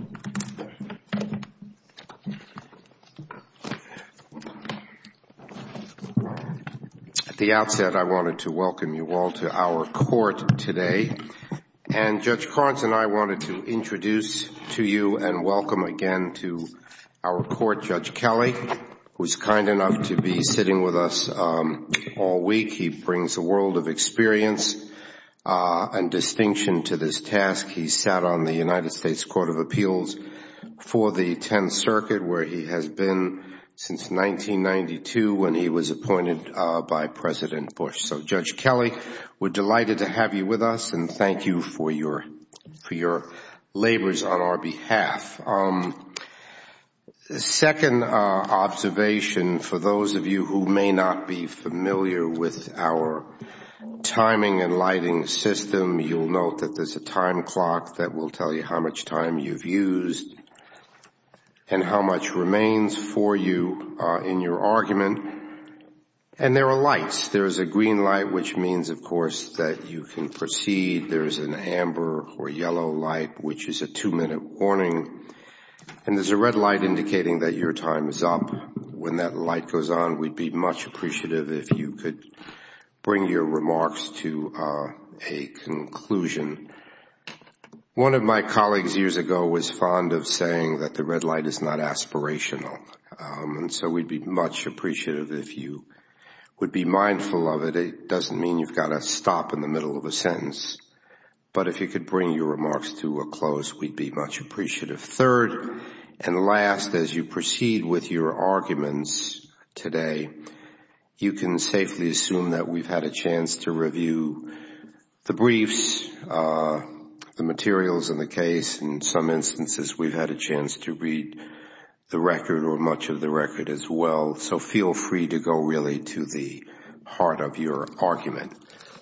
At the outset, I wanted to welcome you all to our court today. And Judge Carnton, I wanted to introduce to you and welcome again to our court Judge Kelly, who's kind enough to be sitting with us all week. He brings a world of experience and distinction to this task. He sat on the United States Court of Appeals for the Tenth Circuit, where he has been since 1992 when he was appointed by President Bush. So, Judge Kelly, we're delighted to have you with us and thank you for your labors on our behalf. Second observation, for those of you who may not be familiar with our timing and lighting system, you'll note that there's a time clock that will tell you how much time you've used and how much remains for you in your argument. And there are lights. There's a green light, which means, of course, that you can proceed. There's an amber or yellow light, which is a two-minute warning. And there's a red light indicating that your time is up. When that light goes on, we'd be much appreciative if you could bring your remarks to a conclusion. One of my colleagues years ago was fond of saying that the red light is not aspirational. And so we'd be much appreciative if you would be mindful of it. It doesn't mean you've got to stop in the middle of a sentence. But if you could bring your remarks to a close, we'd be much appreciative. Third and last, as you proceed with your arguments today, you can safely assume that we've had a chance to review the briefs, the materials in the case. In some instances, we've had a chance to read the record or much of the record as well. So feel free to go really to the heart of your argument.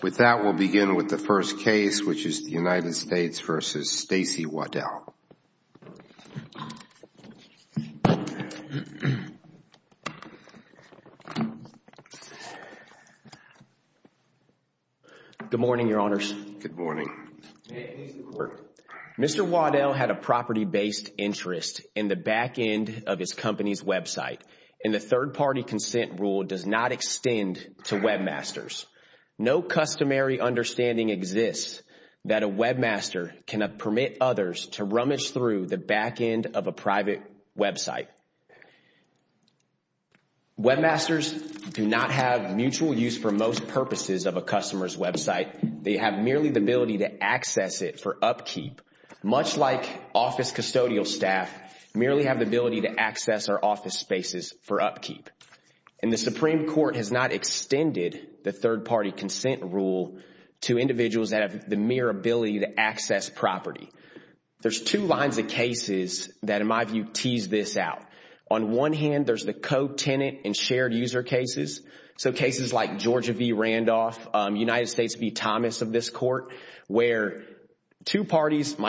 With that, we'll begin with the first case, which is the United States v. Stacey Waddell. Good morning, Your Honors. Good morning. Mr. Wardell had a property-based interest in the back end of his company's website. And the third-party consent rule does not extend to webmasters. No customary understanding exists that a webmaster cannot permit others to rummage through the back end of a private website. Webmasters do not have mutual use for most purposes of a customer's website. They have merely the ability to access it for upkeep, much like office custodial staff merely have the ability to access our office spaces for upkeep. And the Supreme Court has not extended the third-party consent rule to individuals that have the mere ability to access property. There's two lines of cases that, in my view, tease this out. On one hand, there's the co-tenant and shared user cases. So cases like Georgia v. Randolph, United States v. Thomas of this court, where two such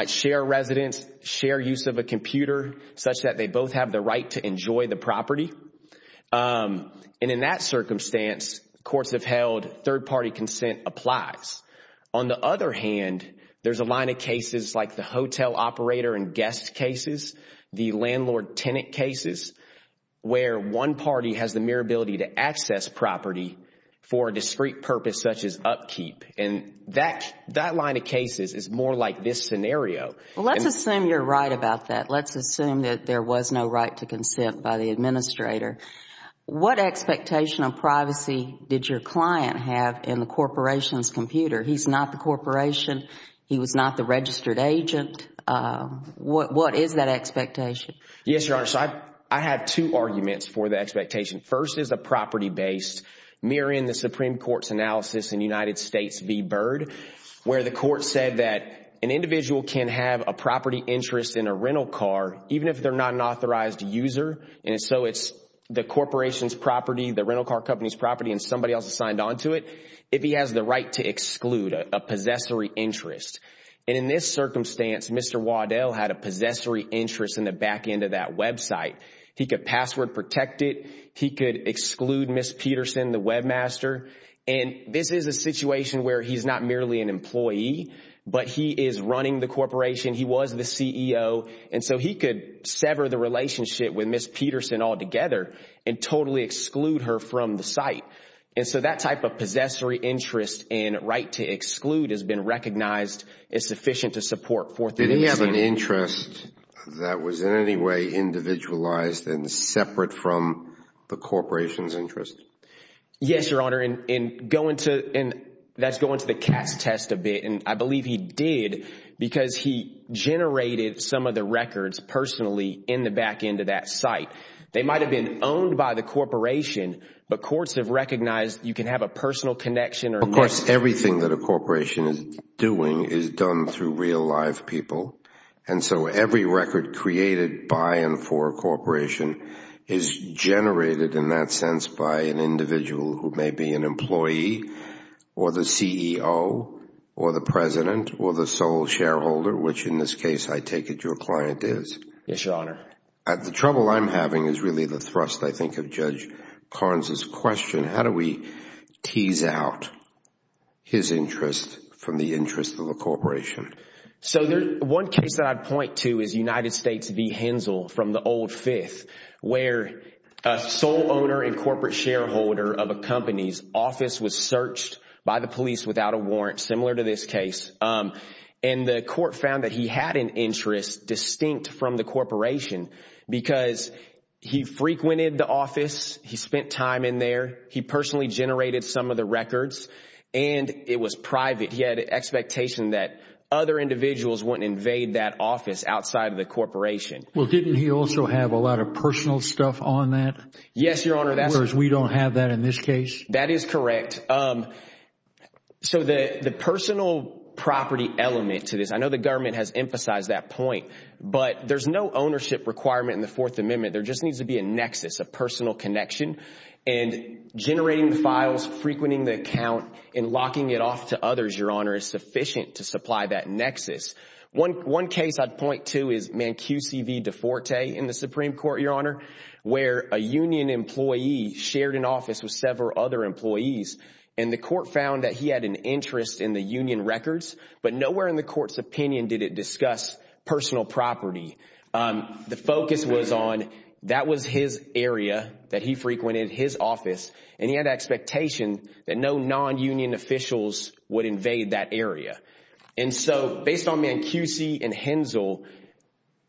that they both have the right to enjoy the property. And in that circumstance, courts have held third-party consent applies. On the other hand, there's a line of cases like the hotel operator and guest cases, the landlord-tenant cases, where one party has the mere ability to access property for a discrete purpose such as upkeep. And that line of cases is more like this scenario. Well, let's assume you're right about that. Let's assume that there was no right to consent by the administrator. What expectation of privacy did your client have in the corporation's computer? He's not the corporation. He was not the registered agent. What is that expectation? Yes, Your Honor. So I have two arguments for the expectation. First is a property-based, mirroring the Supreme Court's analysis in United States v. Byrd, where the court said that an individual can have a property interest in a rental car, even if they're not an authorized user, and so it's the corporation's property, the rental car company's property, and somebody else assigned onto it, if he has the right to exclude a possessory interest. And in this circumstance, Mr. Waddell had a possessory interest in the back end of that website. He could password protect it. He could exclude Ms. Peterson, the webmaster. And this is a situation where he's not merely an employee, but he is running the corporation. He was the CEO. And so he could sever the relationship with Ms. Peterson altogether and totally exclude her from the site. And so that type of possessory interest and right to exclude has been recognized as sufficient to support forthcoming... Did he have an interest that was in any way individualized and separate from the corporation's interest? Yes, Your Honor. And that's going to the Cass test a bit, and I believe he did because he generated some of the records personally in the back end of that site. They might have been owned by the corporation, but courts have recognized you can have a personal connection or... Of course, everything that a corporation is doing is done through real live people. And so every record created by and for a corporation is generated in that sense by an individual who may be an employee or the CEO or the president or the sole shareholder, which in this case, I take it your client is. Yes, Your Honor. The trouble I'm having is really the thrust, I think, of Judge Carnes' question. How do we tease out his interest from the interest of the corporation? So one case that I'd point to is United States v. Hensel from the Old Fifth, where a sole owner and corporate shareholder of a company's office was searched by the police without a warrant, similar to this case, and the court found that he had an interest distinct from the corporation because he frequented the office, he spent time in there, he personally generated some of the records, and it was private. He had an expectation that other individuals wouldn't invade that office outside of the corporation. Well, didn't he also have a lot of personal stuff on that? Yes, Your Honor. Whereas we don't have that in this case? That is correct. So the personal property element to this, I know the government has emphasized that point, but there's no ownership requirement in the Fourth Amendment. There just needs to be a nexus, a personal connection, and generating the files, frequenting the account, and locking it off to others, Your Honor, is sufficient to supply that nexus. One case I'd point to is Mancusi v. DeForte in the Supreme Court, Your Honor, where a union employee shared an office with several other employees, and the court found that he had an interest in the union records, but nowhere in the court's opinion did it discuss personal property. The focus was on that was his area that he frequented, his office, and he had an expectation that no non-union officials would invade that area. And so based on Mancusi and Hensel,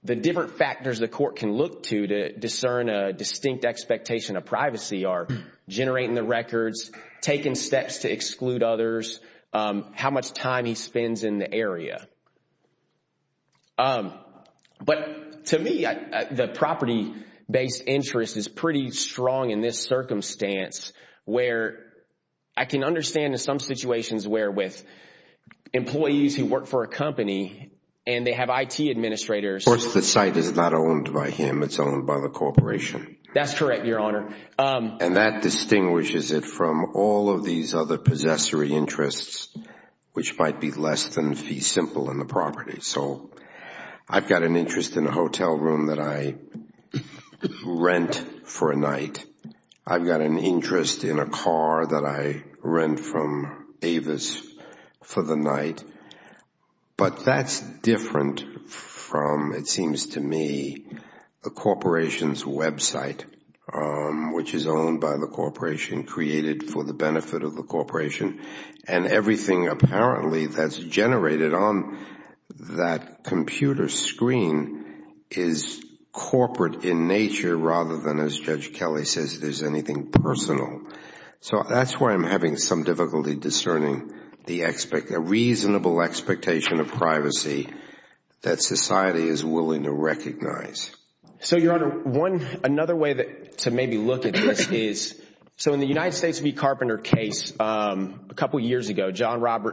the different factors the court can look to to discern a distinct expectation of privacy are generating the records, taking steps to exclude others, how much time he spends in the area. But to me, the property-based interest is pretty strong in this circumstance where I can understand in some situations where with employees who work for a company and they have IT administrators. Of course, the site is not owned by him, it's owned by the corporation. That's correct, Your Honor. And that distinguishes it from all of these other possessory interests, which might be less than fee simple in the property. So I've got an interest in a hotel room that I rent for a night. I've got an interest in a car that I rent from Avis for the night. But that's different from, it seems to me, the corporation's website, which is owned by the corporation, created for the benefit of the corporation. And everything apparently that's generated on that computer screen is corporate in nature rather than, as Judge Kelly says, there's anything personal. So that's where I'm having some difficulty discerning the reasonable expectation of privacy that society is willing to recognize. So Your Honor, another way to maybe look at this is, so in the United States v. Carpenter case a couple years ago,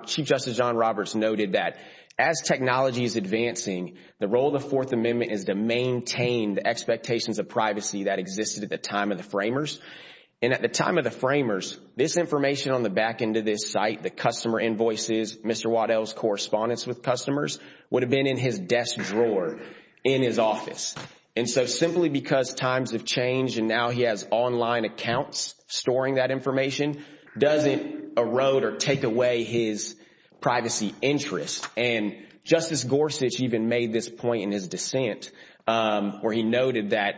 Chief Justice John Roberts noted that as technology is advancing, the role of the Fourth Amendment is to maintain the expectations of privacy that existed at the time of the framers. And at the time of the framers, this information on the back end of this site, the customer invoices, Mr. Waddell's correspondence with customers, would have been in his desk drawer in his office. And so simply because times have changed and now he has online accounts storing that information, doesn't erode or take away his privacy interest. And Justice Gorsuch even made this point in his dissent where he noted that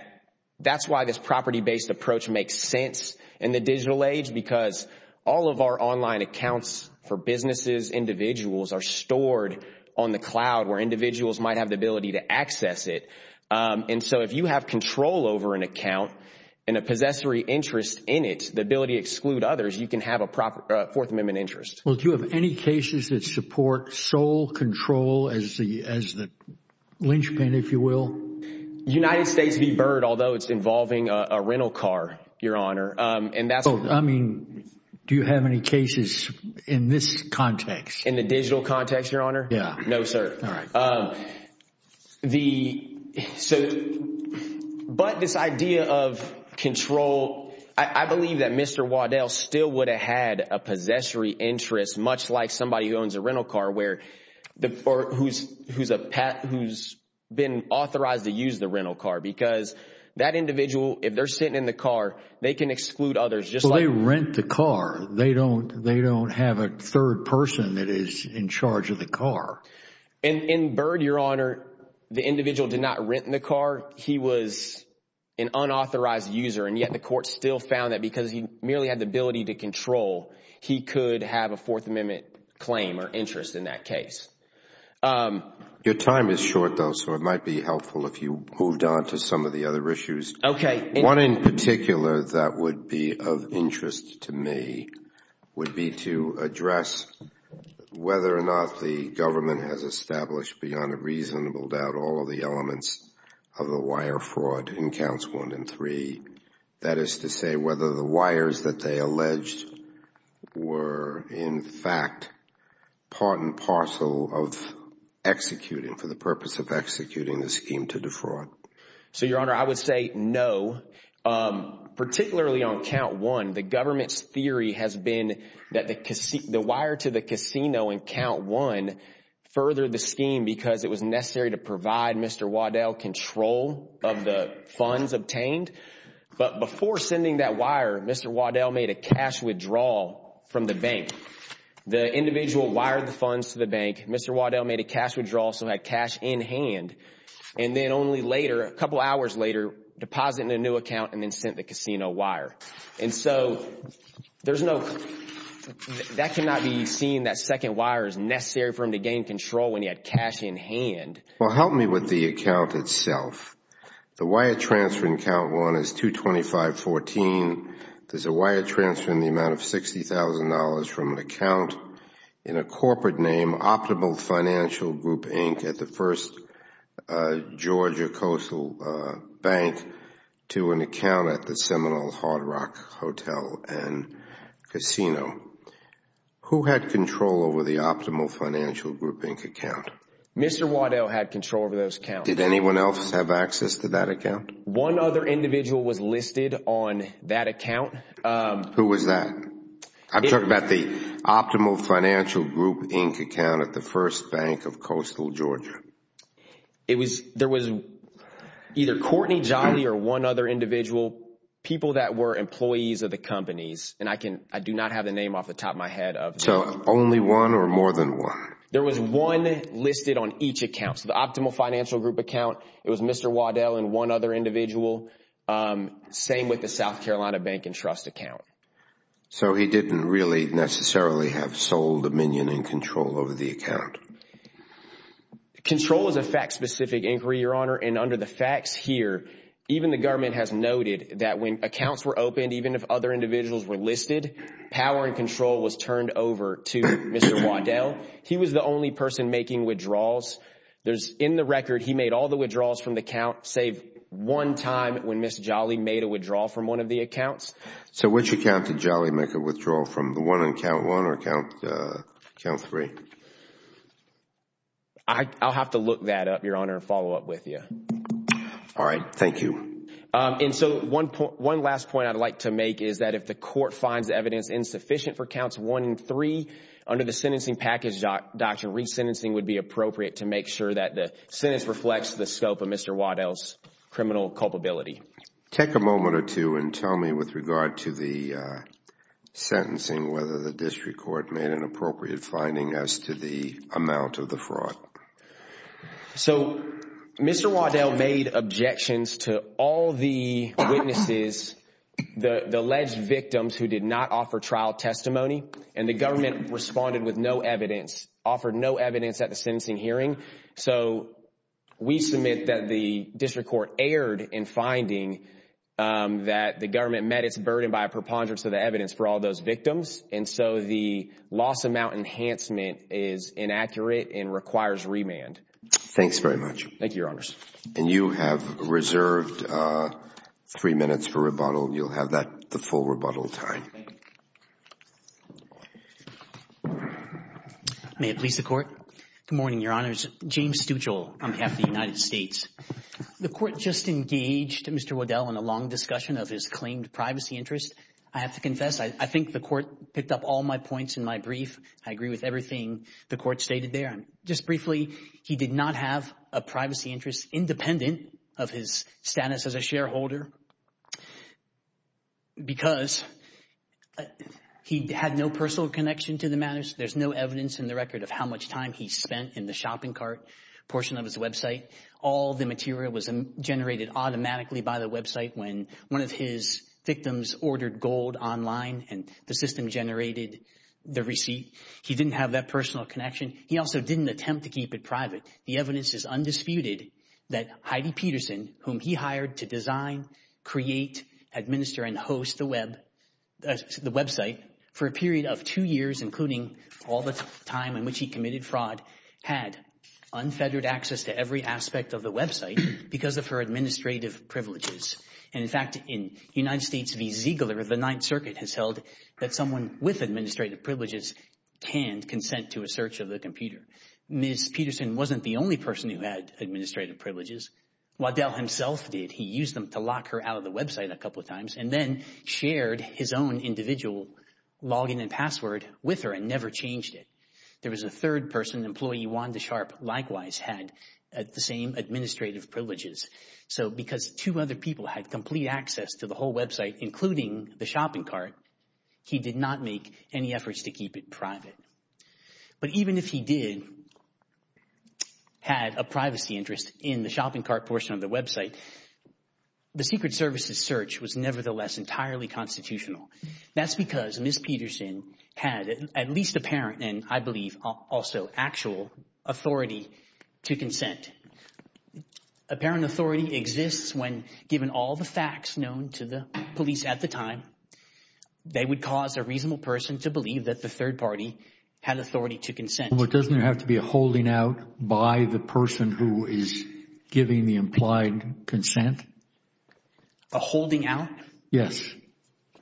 that's why this property-based approach makes sense in the digital age because all of our online accounts for businesses, individuals, are stored on the cloud where individuals might have the ability to access it. And so if you have control over an account and a possessory interest in it, the ability to exclude others, you can have a proper Fourth Amendment interest. Well, do you have any cases that support sole control as the linchpin, if you will? United States v. Byrd, although it's involving a rental car, Your Honor. And that's- I mean, do you have any cases in this context? In the digital context, Your Honor? Yeah. No, sir. All right. But this idea of control, I believe that Mr. Waddell still would have had a possessory interest much like somebody who owns a rental car or who's been authorized to use the rental car because that individual, if they're sitting in the car, they can exclude others just like- They don't have a third person that is in charge of the car. In Byrd, Your Honor, the individual did not rent the car. He was an unauthorized user and yet the court still found that because he merely had the ability to control, he could have a Fourth Amendment claim or interest in that case. Your time is short, though, so it might be helpful if you moved on to some of the other issues. Okay. One in particular that would be of interest to me would be to address whether or not the government has established beyond a reasonable doubt all of the elements of the wire fraud in counts one and three. That is to say whether the wires that they alleged were, in fact, part and parcel of executing for the purpose of executing the scheme to defraud. So, Your Honor, I would say no, particularly on count one. The government's theory has been that the wire to the casino in count one furthered the scheme because it was necessary to provide Mr. Waddell control of the funds obtained, but before sending that wire, Mr. Waddell made a cash withdrawal from the bank. The individual wired the funds to the bank. Mr. Waddell made a cash withdrawal, so he had cash in hand, and then only later, a couple hours later, deposited in a new account and then sent the casino wire. And so, that cannot be seen, that second wire is necessary for him to gain control when he had cash in hand. Well, help me with the account itself. The wire transfer in count one is 22514. There's a wire transfer in the amount of $60,000 from an account in a corporate name Optimal Financial Group, Inc. at the First Georgia Coastal Bank to an account at the Seminole Hard Rock Hotel and Casino. Who had control over the Optimal Financial Group, Inc. account? Mr. Waddell had control over those accounts. Did anyone else have access to that account? One other individual was listed on that account. Who was that? I'm talking about the Optimal Financial Group, Inc. account at the First Bank of Coastal Georgia. There was either Courtney Jolly or one other individual, people that were employees of the companies. And I do not have the name off the top of my head. Only one or more than one? There was one listed on each account. The Optimal Financial Group account, it was Mr. Waddell and one other individual. Same with the South Carolina Bank and Trust account. So he didn't really necessarily have sole dominion and control over the account? Control is a fact-specific inquiry, Your Honor, and under the facts here, even the government has noted that when accounts were opened, even if other individuals were listed, power and control was turned over to Mr. Waddell. He was the only person making withdrawals. In the record, he made all the withdrawals from the account, save one time when Ms. Jolly made a withdrawal from one of the accounts. So which account did Jolly make a withdrawal from? The one on account one or account three? I'll have to look that up, Your Honor, and follow up with you. All right. Thank you. And so one last point I'd like to make is that if the court finds evidence insufficient for accounts one and three, under the sentencing package, Dr. Resentencing would be appropriate to make sure that the sentence reflects the scope of Mr. Waddell's criminal culpability. Take a moment or two and tell me, with regard to the sentencing, whether the district court made an appropriate finding as to the amount of the fraud. So Mr. Waddell made objections to all the witnesses, the alleged victims who did not offer trial testimony, and the government responded with no evidence, offered no evidence at the sentencing hearing. So we submit that the district court erred in finding that the government met its burden by a preponderance of the evidence for all those victims, and so the loss amount enhancement is inaccurate and requires remand. Thanks very much. Thank you, Your Honors. And you have reserved three minutes for rebuttal. You'll have that, the full rebuttal time. May it please the Court? Good morning, Your Honors. James Stuchel on behalf of the United States. The Court just engaged Mr. Waddell in a long discussion of his claimed privacy interest. I have to confess, I think the Court picked up all my points in my brief. I agree with everything the Court stated there. Just briefly, he did not have a privacy interest, independent of his status as a shareholder, because he had no personal connection to the matters. There's no evidence in the record of how much time he spent in the shopping cart portion of his website. All the material was generated automatically by the website when one of his victims ordered gold online and the system generated the receipt. He didn't have that personal connection. He also didn't attempt to keep it private. The evidence is undisputed that Heidi Peterson, whom he hired to design, create, administer, and host the website for a period of two years, including all the time in which he committed fraud, had unfettered access to every aspect of the website because of her administrative privileges. And in fact, in United States v. Ziegler, the Ninth Circuit has held that someone with administrative privileges can consent to a search of the computer. Ms. Peterson wasn't the only person who had administrative privileges. Waddell himself did. He tried to lock her out of the website a couple of times and then shared his own individual login and password with her and never changed it. There was a third person, employee Wanda Sharp, likewise had the same administrative privileges. So because two other people had complete access to the whole website, including the shopping cart, he did not make any efforts to keep it private. But even if he did have a privacy interest in the shopping cart portion of the website, the Secret Service's search was nevertheless entirely constitutional. That's because Ms. Peterson had at least apparent, and I believe also actual, authority to consent. Apparent authority exists when, given all the facts known to the police at the time, they would cause a reasonable person to believe that the third party had authority to consent. But doesn't there have to be a holding out by the person who is giving the implied consent? A holding out? Yes.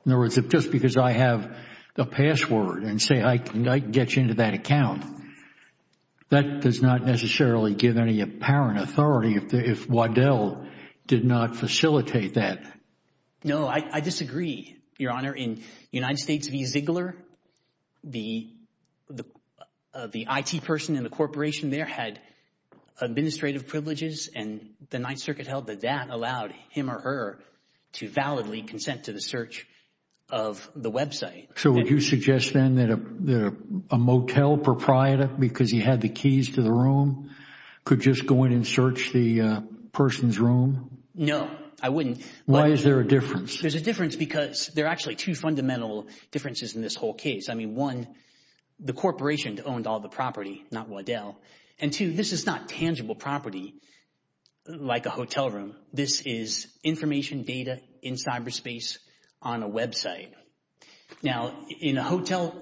In other words, if just because I have a password and say I can get you into that account, that does not necessarily give any apparent authority if Waddell did not facilitate that. No, I disagree, Your Honor. In United States v. Ziegler, the IT person in the corporation there had administrative privileges and the Ninth Circuit held that that allowed him or her to validly consent to the search of the website. So would you suggest then that a motel proprietor, because he had the keys to the room, could just go in and search the person's room? No, I wouldn't. Why is there a difference? There's a difference because there are actually two fundamental differences in this whole case. I mean, one, the corporation owned all the property, not Waddell. And two, this is not tangible property like a hotel room. This is information data in cyberspace on a website. Now, in a hotel,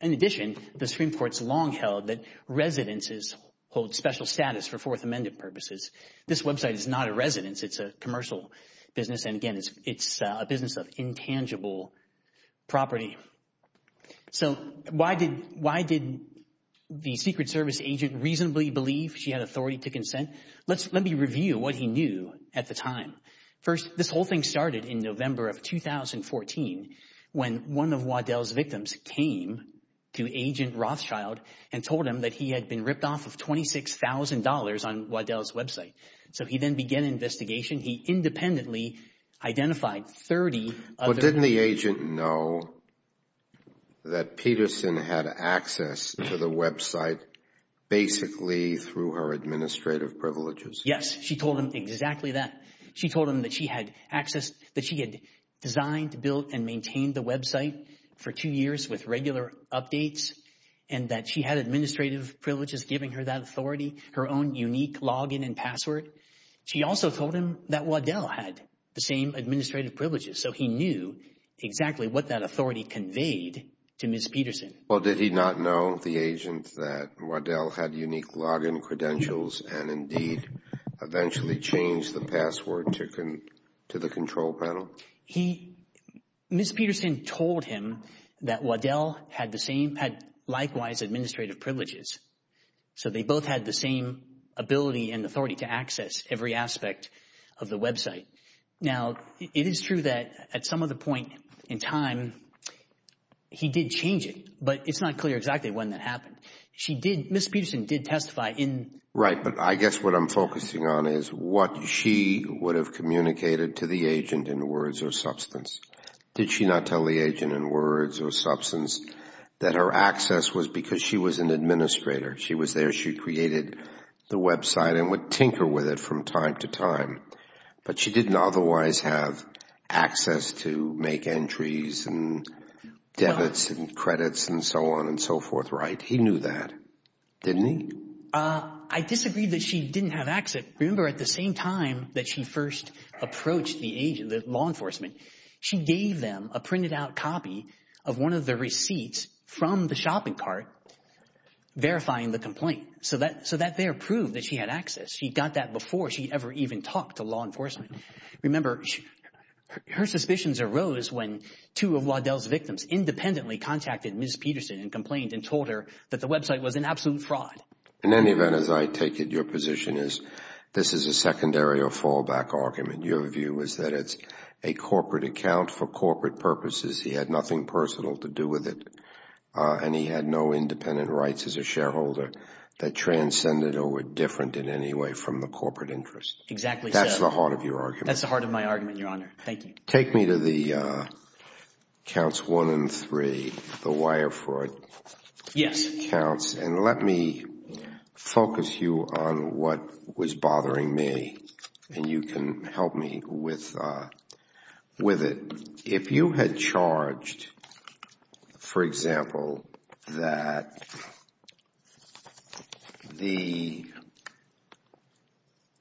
in addition, the Supreme Court's long held that residences hold special status for Fourth Amendment purposes. This website is not a residence. It's a commercial business. And again, it's a business of intangible property. So why did the Secret Service agent reasonably believe she had authority to consent? Let me review what he knew at the time. First, this whole thing started in November of 2014 when one of Waddell's victims came to Agent Rothschild and told him that he had been ripped off of $26,000 on Waddell's website. So he then began an investigation. He independently identified 30 other- But didn't the agent know that Peterson had access to the website basically through her administrative privileges? Yes. She told him exactly that. She told him that she had access, that she had designed, built, and maintained the website for two years with regular updates and that she had administrative privileges giving her her own unique login and password. She also told him that Waddell had the same administrative privileges. So he knew exactly what that authority conveyed to Ms. Peterson. Well, did he not know, the agent, that Waddell had unique login credentials and indeed eventually changed the password to the control panel? Ms. Peterson told him that Waddell had likewise administrative privileges. So they both had the same ability and authority to access every aspect of the website. Now, it is true that at some other point in time, he did change it. But it's not clear exactly when that happened. She did, Ms. Peterson did testify in- Right. But I guess what I'm focusing on is what she would have communicated to the agent in words or substance. Did she not tell the agent in words or substance that her access was because she was an administrator? She was there. She created the website and would tinker with it from time to time. But she didn't otherwise have access to make entries and debits and credits and so on and so forth, right? He knew that, didn't he? I disagree that she didn't have access. Remember, at the same time that she first approached the agent, the law enforcement, she gave them a printed out copy of one of the receipts from the shopping cart verifying the complaint so that there proved that she had access. She got that before she ever even talked to law enforcement. Remember, her suspicions arose when two of Waddell's victims independently contacted Ms. Peterson and complained and told her that the website was an absolute fraud. In any event, as I take it, your position is this is a secondary or fallback argument. Your view is that it's a corporate account for corporate purposes. He had nothing personal to do with it and he had no independent rights as a shareholder that transcended or were different in any way from the corporate interest. Exactly. That's the heart of your argument. That's the heart of my argument, Your Honor. Thank you. Take me to the counts one and three, the wire fraud. Yes. Let me focus you on what was bothering me and you can help me with it. If you had charged, for example, that the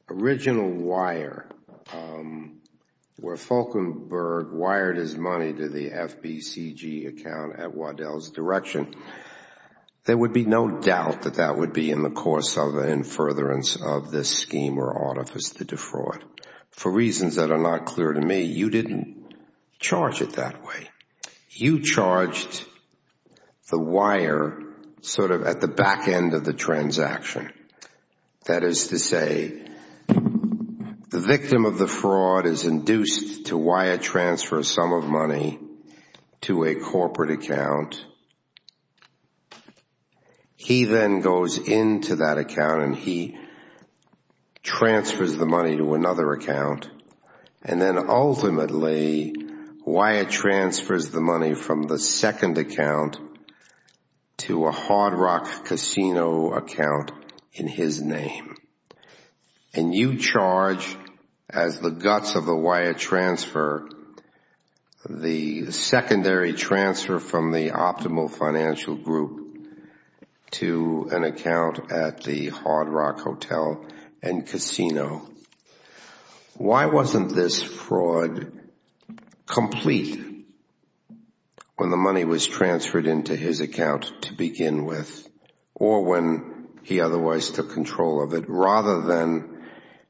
original wire, where Falkenberg wired his money to the FBCG account at Waddell's direction, there would be no doubt that that would be in the course of the in furtherance of this scheme or artifice to defraud. For reasons that are not clear to me, you didn't charge it that way. You charged the wire sort of at the back end of the transaction. That is to say, the victim of the fraud is induced to wire transfer some of money to a corporate account. He then goes into that account and he transfers the money to another account. And then ultimately, wire transfers the money from the second account to a Hard Rock casino account in his name. And you charge, as the guts of the wire transfer, the secondary transfer from the optimal financial group to an account at the Hard Rock hotel and casino. Why wasn't this fraud complete when the money was transferred into his account to begin with or when he otherwise took control of it, rather than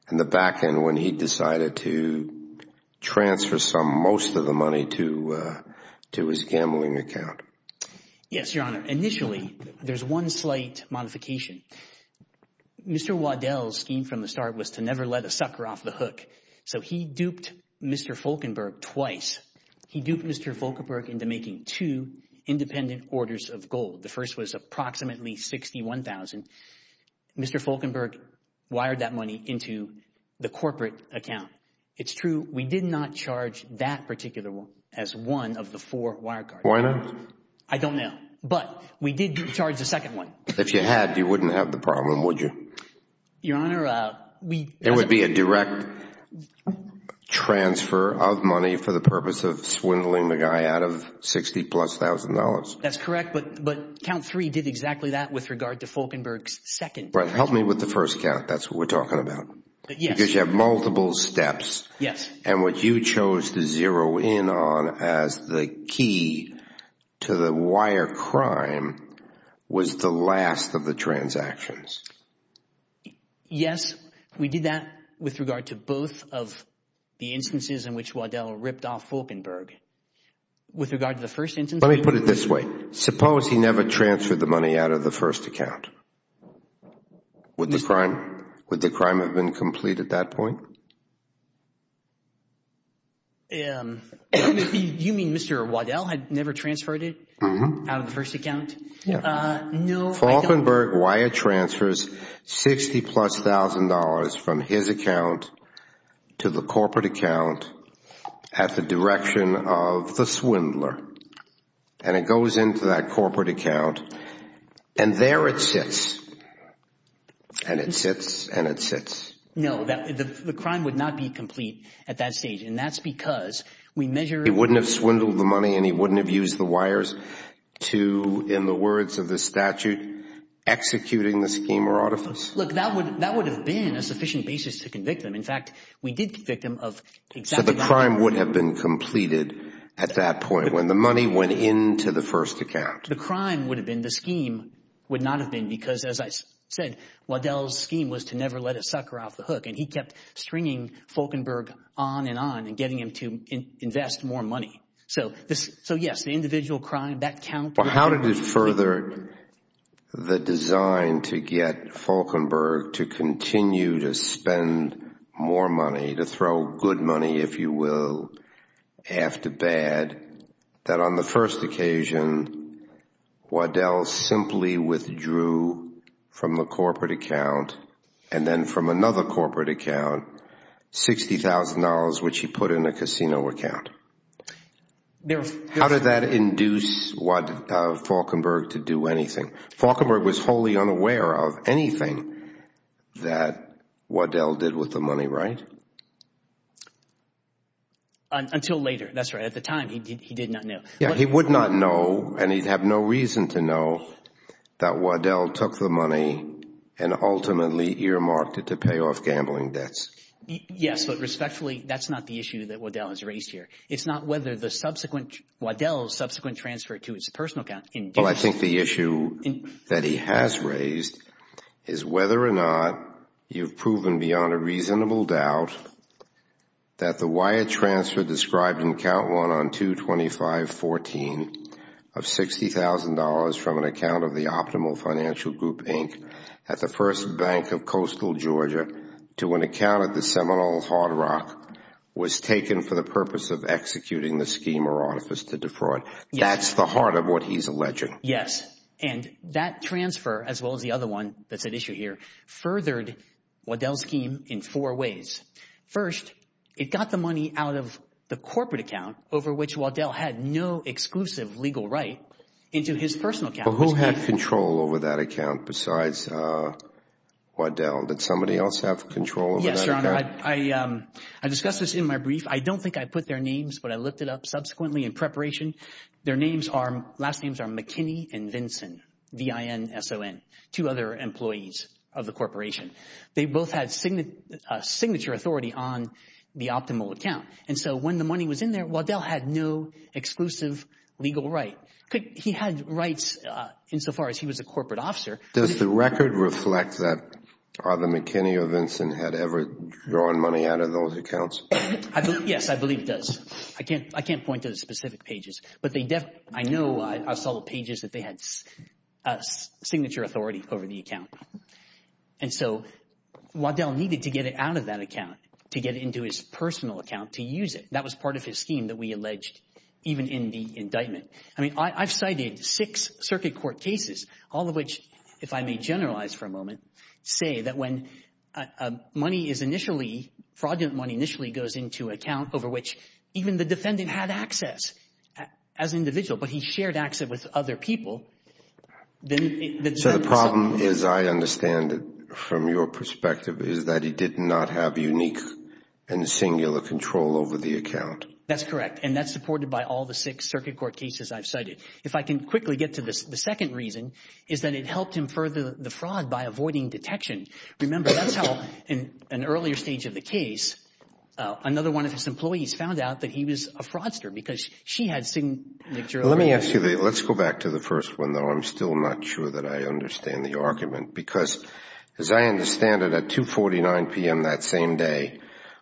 in the back end when he decided to transfer some, most of the money to his gambling account? Yes, Your Honor. Initially, there's one slight modification. Mr. Waddell's scheme from the start was to never let a sucker off the hook. So he duped Mr. Falkenberg twice. He duped Mr. Falkenberg into making two independent orders of gold. The first was approximately $61,000. Mr. Falkenberg wired that money into the corporate account. It's true. We did not charge that particular one as one of the four wire cards. Why not? I don't know. But we did charge the second one. If you had, you wouldn't have the problem, would you? Your Honor, we— It would be a direct transfer of money for the purpose of swindling the guy out of $60,000 plus. That's correct. But count three did exactly that with regard to Falkenberg's second transaction. Help me with the first count. That's what we're talking about. Yes. Because you have multiple steps. Yes. And what you chose to zero in on as the key to the wire crime was the last of the transactions. Yes. We did that with regard to both of the instances in which Waddell ripped off Falkenberg. With regard to the first instance— Let me put it this way. Suppose he never transferred the money out of the first account. Would the crime have been complete at that point? You mean Mr. Waddell had never transferred it out of the first account? No. Falkenberg wire transfers $60,000 plus from his account to the corporate account at the direction of the swindler. And it goes into that corporate account. And there it sits. And it sits. And it sits. No, the crime would not be complete at that stage. And that's because we measure— He wouldn't have swindled the money and he wouldn't have used the wires to, in the words of the statute, executing the scheme or orifice? Look, that would have been a sufficient basis to convict him. In fact, we did convict him of exactly— So the crime would have been completed at that point. When the money went into the first account. The crime would have been— The scheme would not have been— Because as I said, Waddell's scheme was to never let a sucker off the hook. And he kept stringing Falkenberg on and on and getting him to invest more money. So yes, the individual crime, that count— How did it further the design to get Falkenberg to continue to spend more money, to throw good money, if you will, after bad, that on the first occasion Waddell simply withdrew from the corporate account and then from another corporate account $60,000, which he put in a casino account? How did that induce Falkenberg to do anything? Falkenberg was wholly unaware of anything that Waddell did with the money, right? Until later, that's right. At the time, he did not know. Yeah, he would not know, and he'd have no reason to know that Waddell took the money and ultimately earmarked it to pay off gambling debts. Yes, but respectfully, that's not the issue that Waddell has raised here. It's not whether the subsequent— Waddell's subsequent transfer to his personal account— Well, I think the issue that he has raised is whether or not you've proven beyond a reasonable doubt that the wire transfer described in Count 1 on 225.14 of $60,000 from an account of the Optimal Financial Group, Inc. at the First Bank of coastal Georgia to an account at the Seminole Hard Rock was taken for the purpose of executing the scheme or artifice to defraud. That's the heart of what he's alleging. Yes, and that transfer, as well as the other one that's at issue here, furthered Waddell's scheme in four ways. First, it got the money out of the corporate account over which Waddell had no exclusive legal right into his personal account. But who had control over that account besides Waddell? Did somebody else have control over that account? Yes, Your Honor, I discussed this in my brief. I don't think I put their names, but I looked it up subsequently in preparation. Their last names are McKinney and Vinson, V-I-N-S-O-N, two other employees of the corporation. They both had signature authority on the Optimal account. And so when the money was in there, Waddell had no exclusive legal right. He had rights insofar as he was a corporate officer. Does the record reflect that either McKinney or Vinson had ever drawn money out of those accounts? Yes, I believe it does. I can't point to the specific pages, but I know I saw the pages that they had signature authority over the account. And so Waddell needed to get it out of that account to get into his personal account to use it. That was part of his scheme that we alleged even in the indictment. I mean, I've cited six circuit court cases, all of which, if I may generalize for a moment, say that when money is initially, fraudulent money initially goes into an account over which even the defendant had access. As an individual, but he shared access with other people. So the problem is, I understand it from your perspective, is that he did not have unique and singular control over the account. That's correct. And that's supported by all the six circuit court cases I've cited. If I can quickly get to the second reason, is that it helped him further the fraud by avoiding detection. Remember, that's how in an earlier stage of the case, another one of his employees found out that he was a fraudster because she had seen the jury. Let me ask you, let's go back to the first one, though. I'm still not sure that I understand the argument because as I understand it at 2.49 p.m. that same day,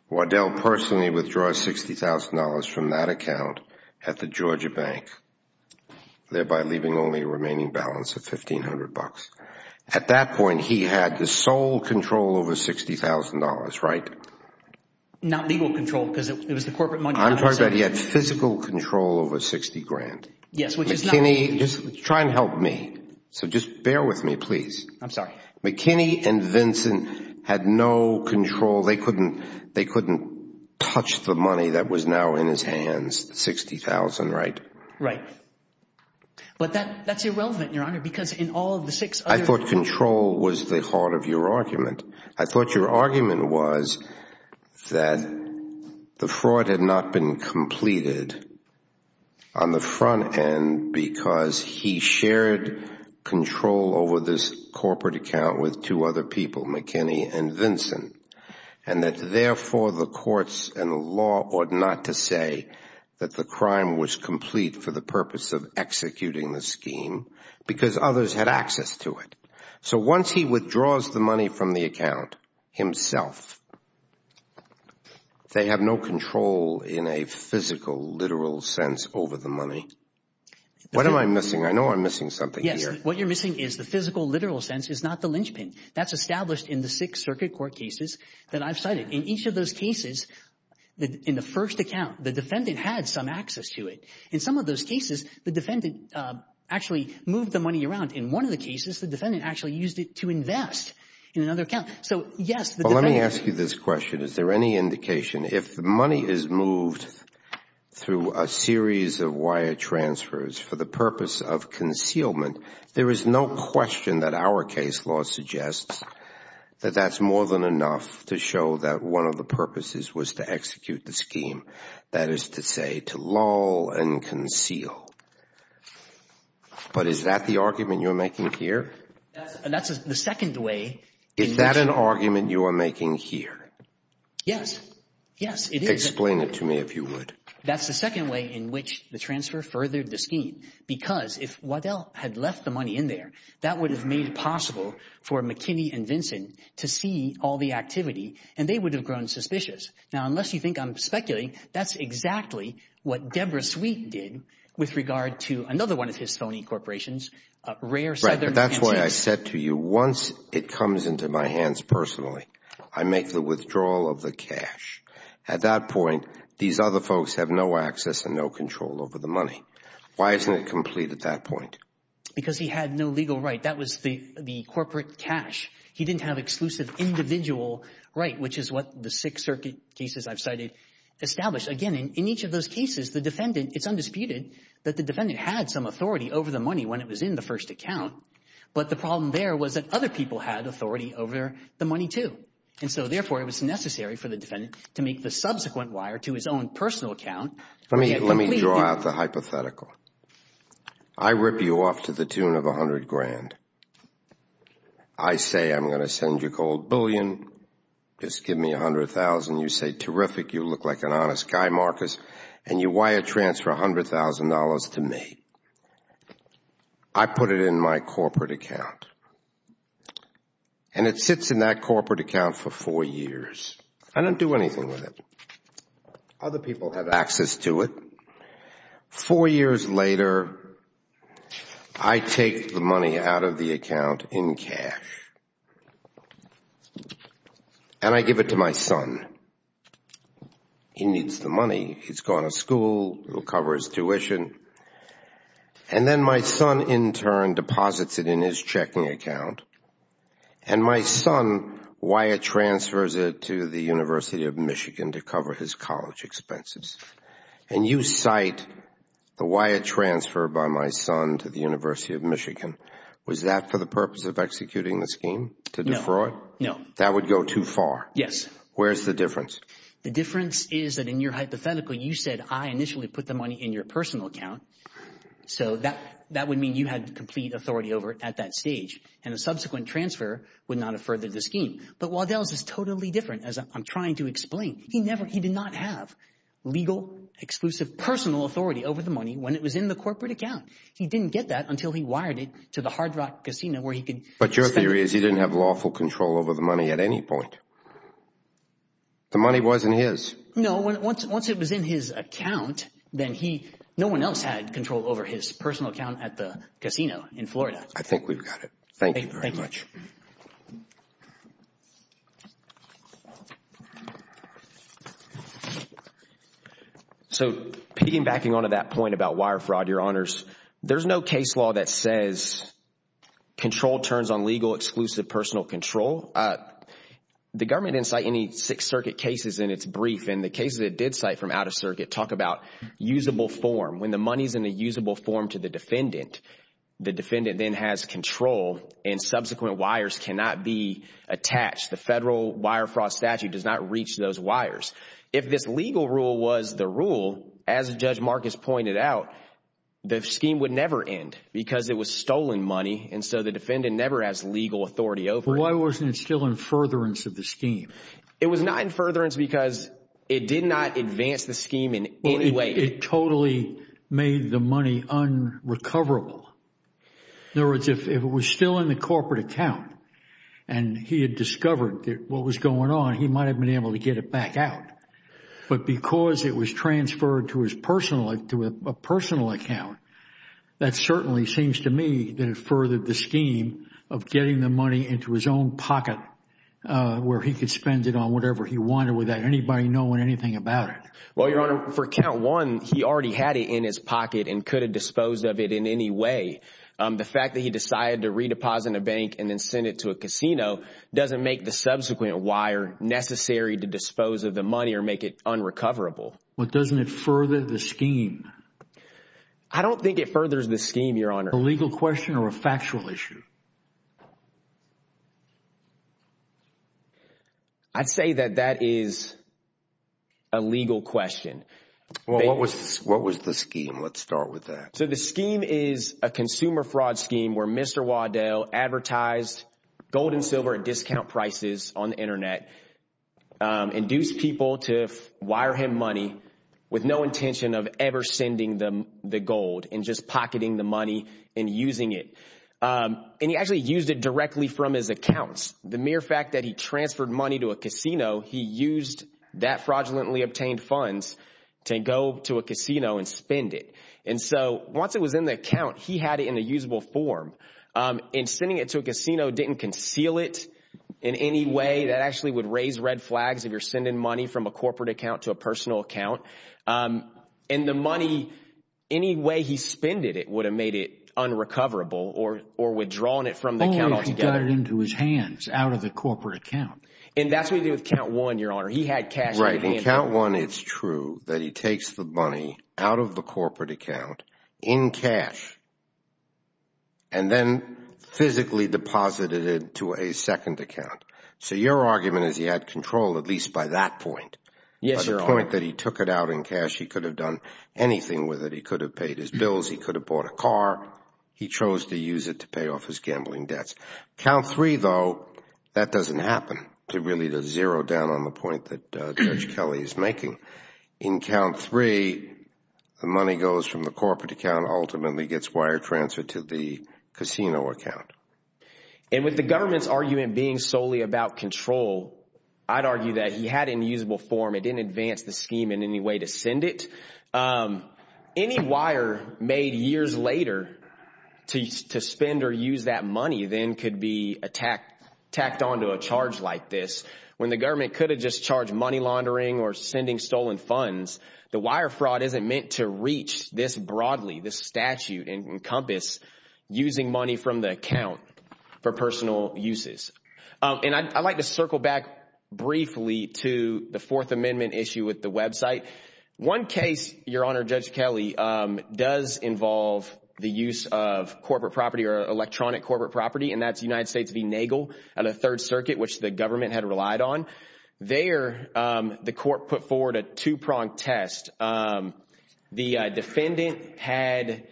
Waddell personally withdraw $60,000 from that account at the Georgia Bank, thereby leaving only a remaining balance of $1,500. At that point, he had the sole control over $60,000, right? Not legal control because it was the corporate money. I'm talking about he had physical control over $60,000. Yes, which is not legal. McKinney, just try and help me. So just bear with me, please. I'm sorry. McKinney and Vincent had no control. They couldn't touch the money that was now in his hands, $60,000, right? Right. But that's irrelevant, Your Honor, because in all of the six other— I thought control was the heart of your argument. I thought your argument was that the fraud had not been completed on the front end because he shared control over this corporate account with two other people, McKinney and Vincent, and that therefore the courts and the law ought not to say that the crime was complete for the purpose of executing the scheme because others had access to it. So once he withdraws the money from the account himself, they have no control in a physical, literal sense over the money. What am I missing? I know I'm missing something here. What you're missing is the physical, literal sense is not the linchpin. That's established in the six circuit court cases that I've cited. In each of those cases, in the first account, the defendant had some access to it. In some of those cases, the defendant actually moved the money around. In one of the cases, the defendant actually used it to invest in another account. So, yes, the defendant— Let me ask you this question. Is there any indication, if the money is moved through a series of wire transfers for the purpose of concealment, there is no question that our case law suggests that that's more than enough to show that one of the purposes was to execute the scheme, that is to say, to lull and conceal. No. But is that the argument you're making here? That's the second way— Is that an argument you are making here? Yes. Yes, it is. Explain it to me if you would. That's the second way in which the transfer furthered the scheme because if Waddell had left the money in there, that would have made it possible for McKinney and Vinson to see all the activity and they would have grown suspicious. Now, unless you think I'm speculating, that's exactly what Deborah Sweet did with regard to another one of his phony corporations, Rare Southern Energy— That's why I said to you, once it comes into my hands personally, I make the withdrawal of the cash. At that point, these other folks have no access and no control over the money. Why isn't it complete at that point? Because he had no legal right. That was the corporate cash. He didn't have exclusive individual right, which is what the Sixth Circuit cases I've cited established. Again, in each of those cases, it's undisputed that the defendant had some authority over the money when it was in the first account. But the problem there was that other people had authority over the money too. And so, therefore, it was necessary for the defendant to make the subsequent wire to his own personal account. Let me draw out the hypothetical. I rip you off to the tune of a hundred grand. I say, I'm going to send you a cold billion. Just give me a hundred thousand. You say, terrific. You look like an honest guy, Marcus. And you wire transfer a hundred thousand dollars to me. I put it in my corporate account. And it sits in that corporate account for four years. I don't do anything with it. Other people have access to it. Four years later, I take the money out of the account in cash. And I give it to my son. He needs the money. He's going to school. It'll cover his tuition. And then my son, in turn, deposits it in his checking account. And my son wire transfers it to the University of Michigan to cover his college expenses. And you cite the wire transfer by my son to the University of Michigan. Was that for the purpose of executing the scheme? To defraud? No. That would go too far. Yes. Where's the difference? The difference is that in your hypothetical, you said I initially put the money in your personal account. So that would mean you had complete authority over it at that stage. And a subsequent transfer would not have furthered the scheme. But Waddell's is totally different, as I'm trying to explain. He did not have legal, exclusive, personal authority over the money when it was in the corporate account. He didn't get that until he wired it to the Hard Rock casino where he could spend it. But your theory is he didn't have lawful control over the money at any point. The money wasn't his. No. Once it was in his account, then he, no one else had control over his personal account at the casino in Florida. I think we've got it. Thank you very much. So piggybacking on to that point about wire fraud, Your Honors, there's no case law that says control turns on legal, exclusive, personal control. The government didn't cite any Sixth Circuit cases in its brief. And the cases it did cite from out of circuit talk about usable form. When the money's in a usable form to the defendant, the defendant then has control and subsequent wires cannot be attached. The federal wire fraud statute does not reach those wires. If this legal rule was the rule, as Judge Marcus pointed out, the scheme would never end because it was stolen money. And so the defendant never has legal authority over it. Why wasn't it still in furtherance of the scheme? It was not in furtherance because it did not advance the scheme in any way. It totally made the money unrecoverable. In other words, if it was still in the corporate account and he had discovered what was going on, he might have been able to get it back out. But because it was transferred to a personal account, that certainly seems to me that it was in his own pocket where he could spend it on whatever he wanted without anybody knowing anything about it. Well, Your Honor, for count one, he already had it in his pocket and could have disposed of it in any way. The fact that he decided to redeposit a bank and then send it to a casino doesn't make the subsequent wire necessary to dispose of the money or make it unrecoverable. But doesn't it further the scheme? I don't think it furthers the scheme, Your Honor. A legal question or a factual issue? I'd say that that is a legal question. Well, what was what was the scheme? Let's start with that. So the scheme is a consumer fraud scheme where Mr. Waddell advertised gold and silver at discount prices on the Internet, induced people to wire him money with no intention of ever sending them the gold and just pocketing the money and using it. And he actually used it directly from his account. The mere fact that he transferred money to a casino, he used that fraudulently obtained funds to go to a casino and spend it. And so once it was in the account, he had it in a usable form and sending it to a casino didn't conceal it in any way. That actually would raise red flags if you're sending money from a corporate account to a personal account. And the money, any way he spent it, it would have made it unrecoverable or withdrawn it from the account altogether. Into his hands, out of the corporate account. And that's what you do with count one, your honor. He had cash. Right. And count one, it's true that he takes the money out of the corporate account in cash. And then physically deposited it to a second account. So your argument is he had control, at least by that point. Yes, your point that he took it out in cash, he could have done anything with it. He could have paid his bills. He could have bought a car. He chose to use it to pay off his gambling debts. Count three, though, that doesn't happen. It really does zero down on the point that Judge Kelly is making. In count three, the money goes from the corporate account, ultimately gets wire transferred to the casino account. And with the government's argument being solely about control, I'd argue that he had in usable form. It didn't advance the scheme in any way to send it. Um, any wire made years later to to spend or use that money then could be attacked, tacked onto a charge like this when the government could have just charged money laundering or sending stolen funds. The wire fraud isn't meant to reach this broadly. This statute encompass using money from the account for personal uses. And I'd like to circle back briefly to the Fourth Amendment issue with the website. One case, Your Honor, Judge Kelly does involve the use of corporate property or electronic corporate property, and that's United States v. Nagel and the Third Circuit, which the government had relied on. There, the court put forward a two prong test. The defendant had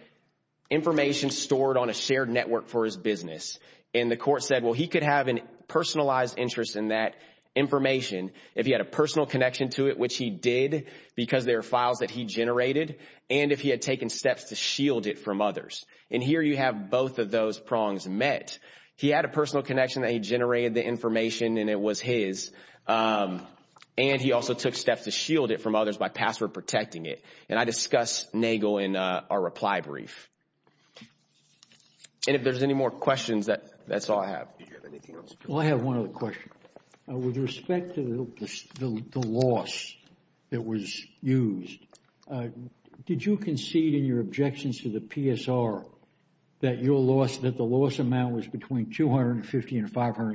information stored on a shared network for his business, and the court said, well, he could have a personalized interest in that information if he had a personal connection to it, which he did because there are files that he generated. And if he had taken steps to shield it from others. And here you have both of those prongs met. He had a personal connection that he generated the information and it was his. And he also took steps to shield it from others by password protecting it. And I discuss Nagel in our reply brief. And if there's any more questions that that's all I have. Well, I have one other question. With respect to the loss that was used, did you concede in your objections to the PSR that your loss, that the loss amount was between $250,000 and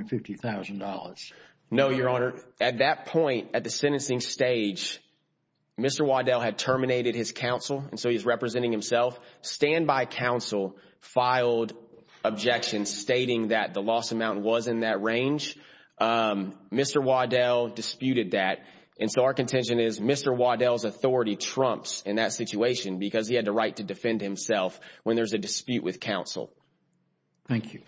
$550,000? No, Your Honor. At that point, at the sentencing stage, Mr. Waddell had terminated his counsel. And so he's representing himself. Standby counsel filed objections stating that the loss amount was in that range. Mr. Waddell disputed that. And so our contention is Mr. Waddell's authority trumps in that situation because he had the right to defend himself when there's a dispute with counsel. Thank you.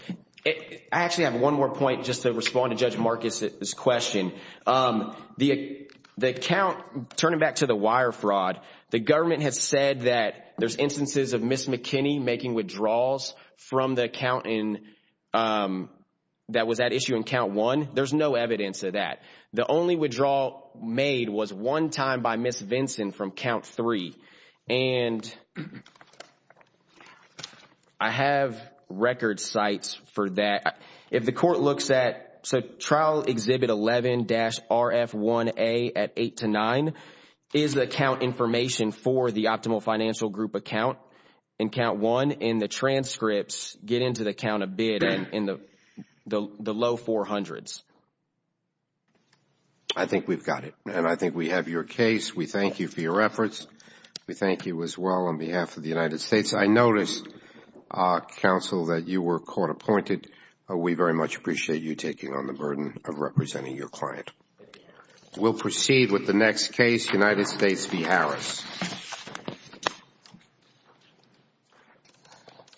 I actually have one more point just to respond to Judge Marcus's question. The account, turning back to the wire fraud, the government has said that there's instances of Ms. McKinney making withdrawals from the accountant that was at issue in count one. There's no evidence of that. The only withdrawal made was one time by Ms. Vinson from count three. And I have record sites for that. If the court looks at, so trial exhibit 11-RF1A at 8 to 9 is the account information for the optimal financial group account in count one. And the transcripts get into the count of bid in the low 400s. I think we've got it. And I think we have your case. We thank you for your efforts. We thank you as well on behalf of the United States. I noticed, counsel, that you were court appointed. We very much appreciate you taking on the burden of representing your client. We'll proceed with the next case, United States v. Harris. Thank you.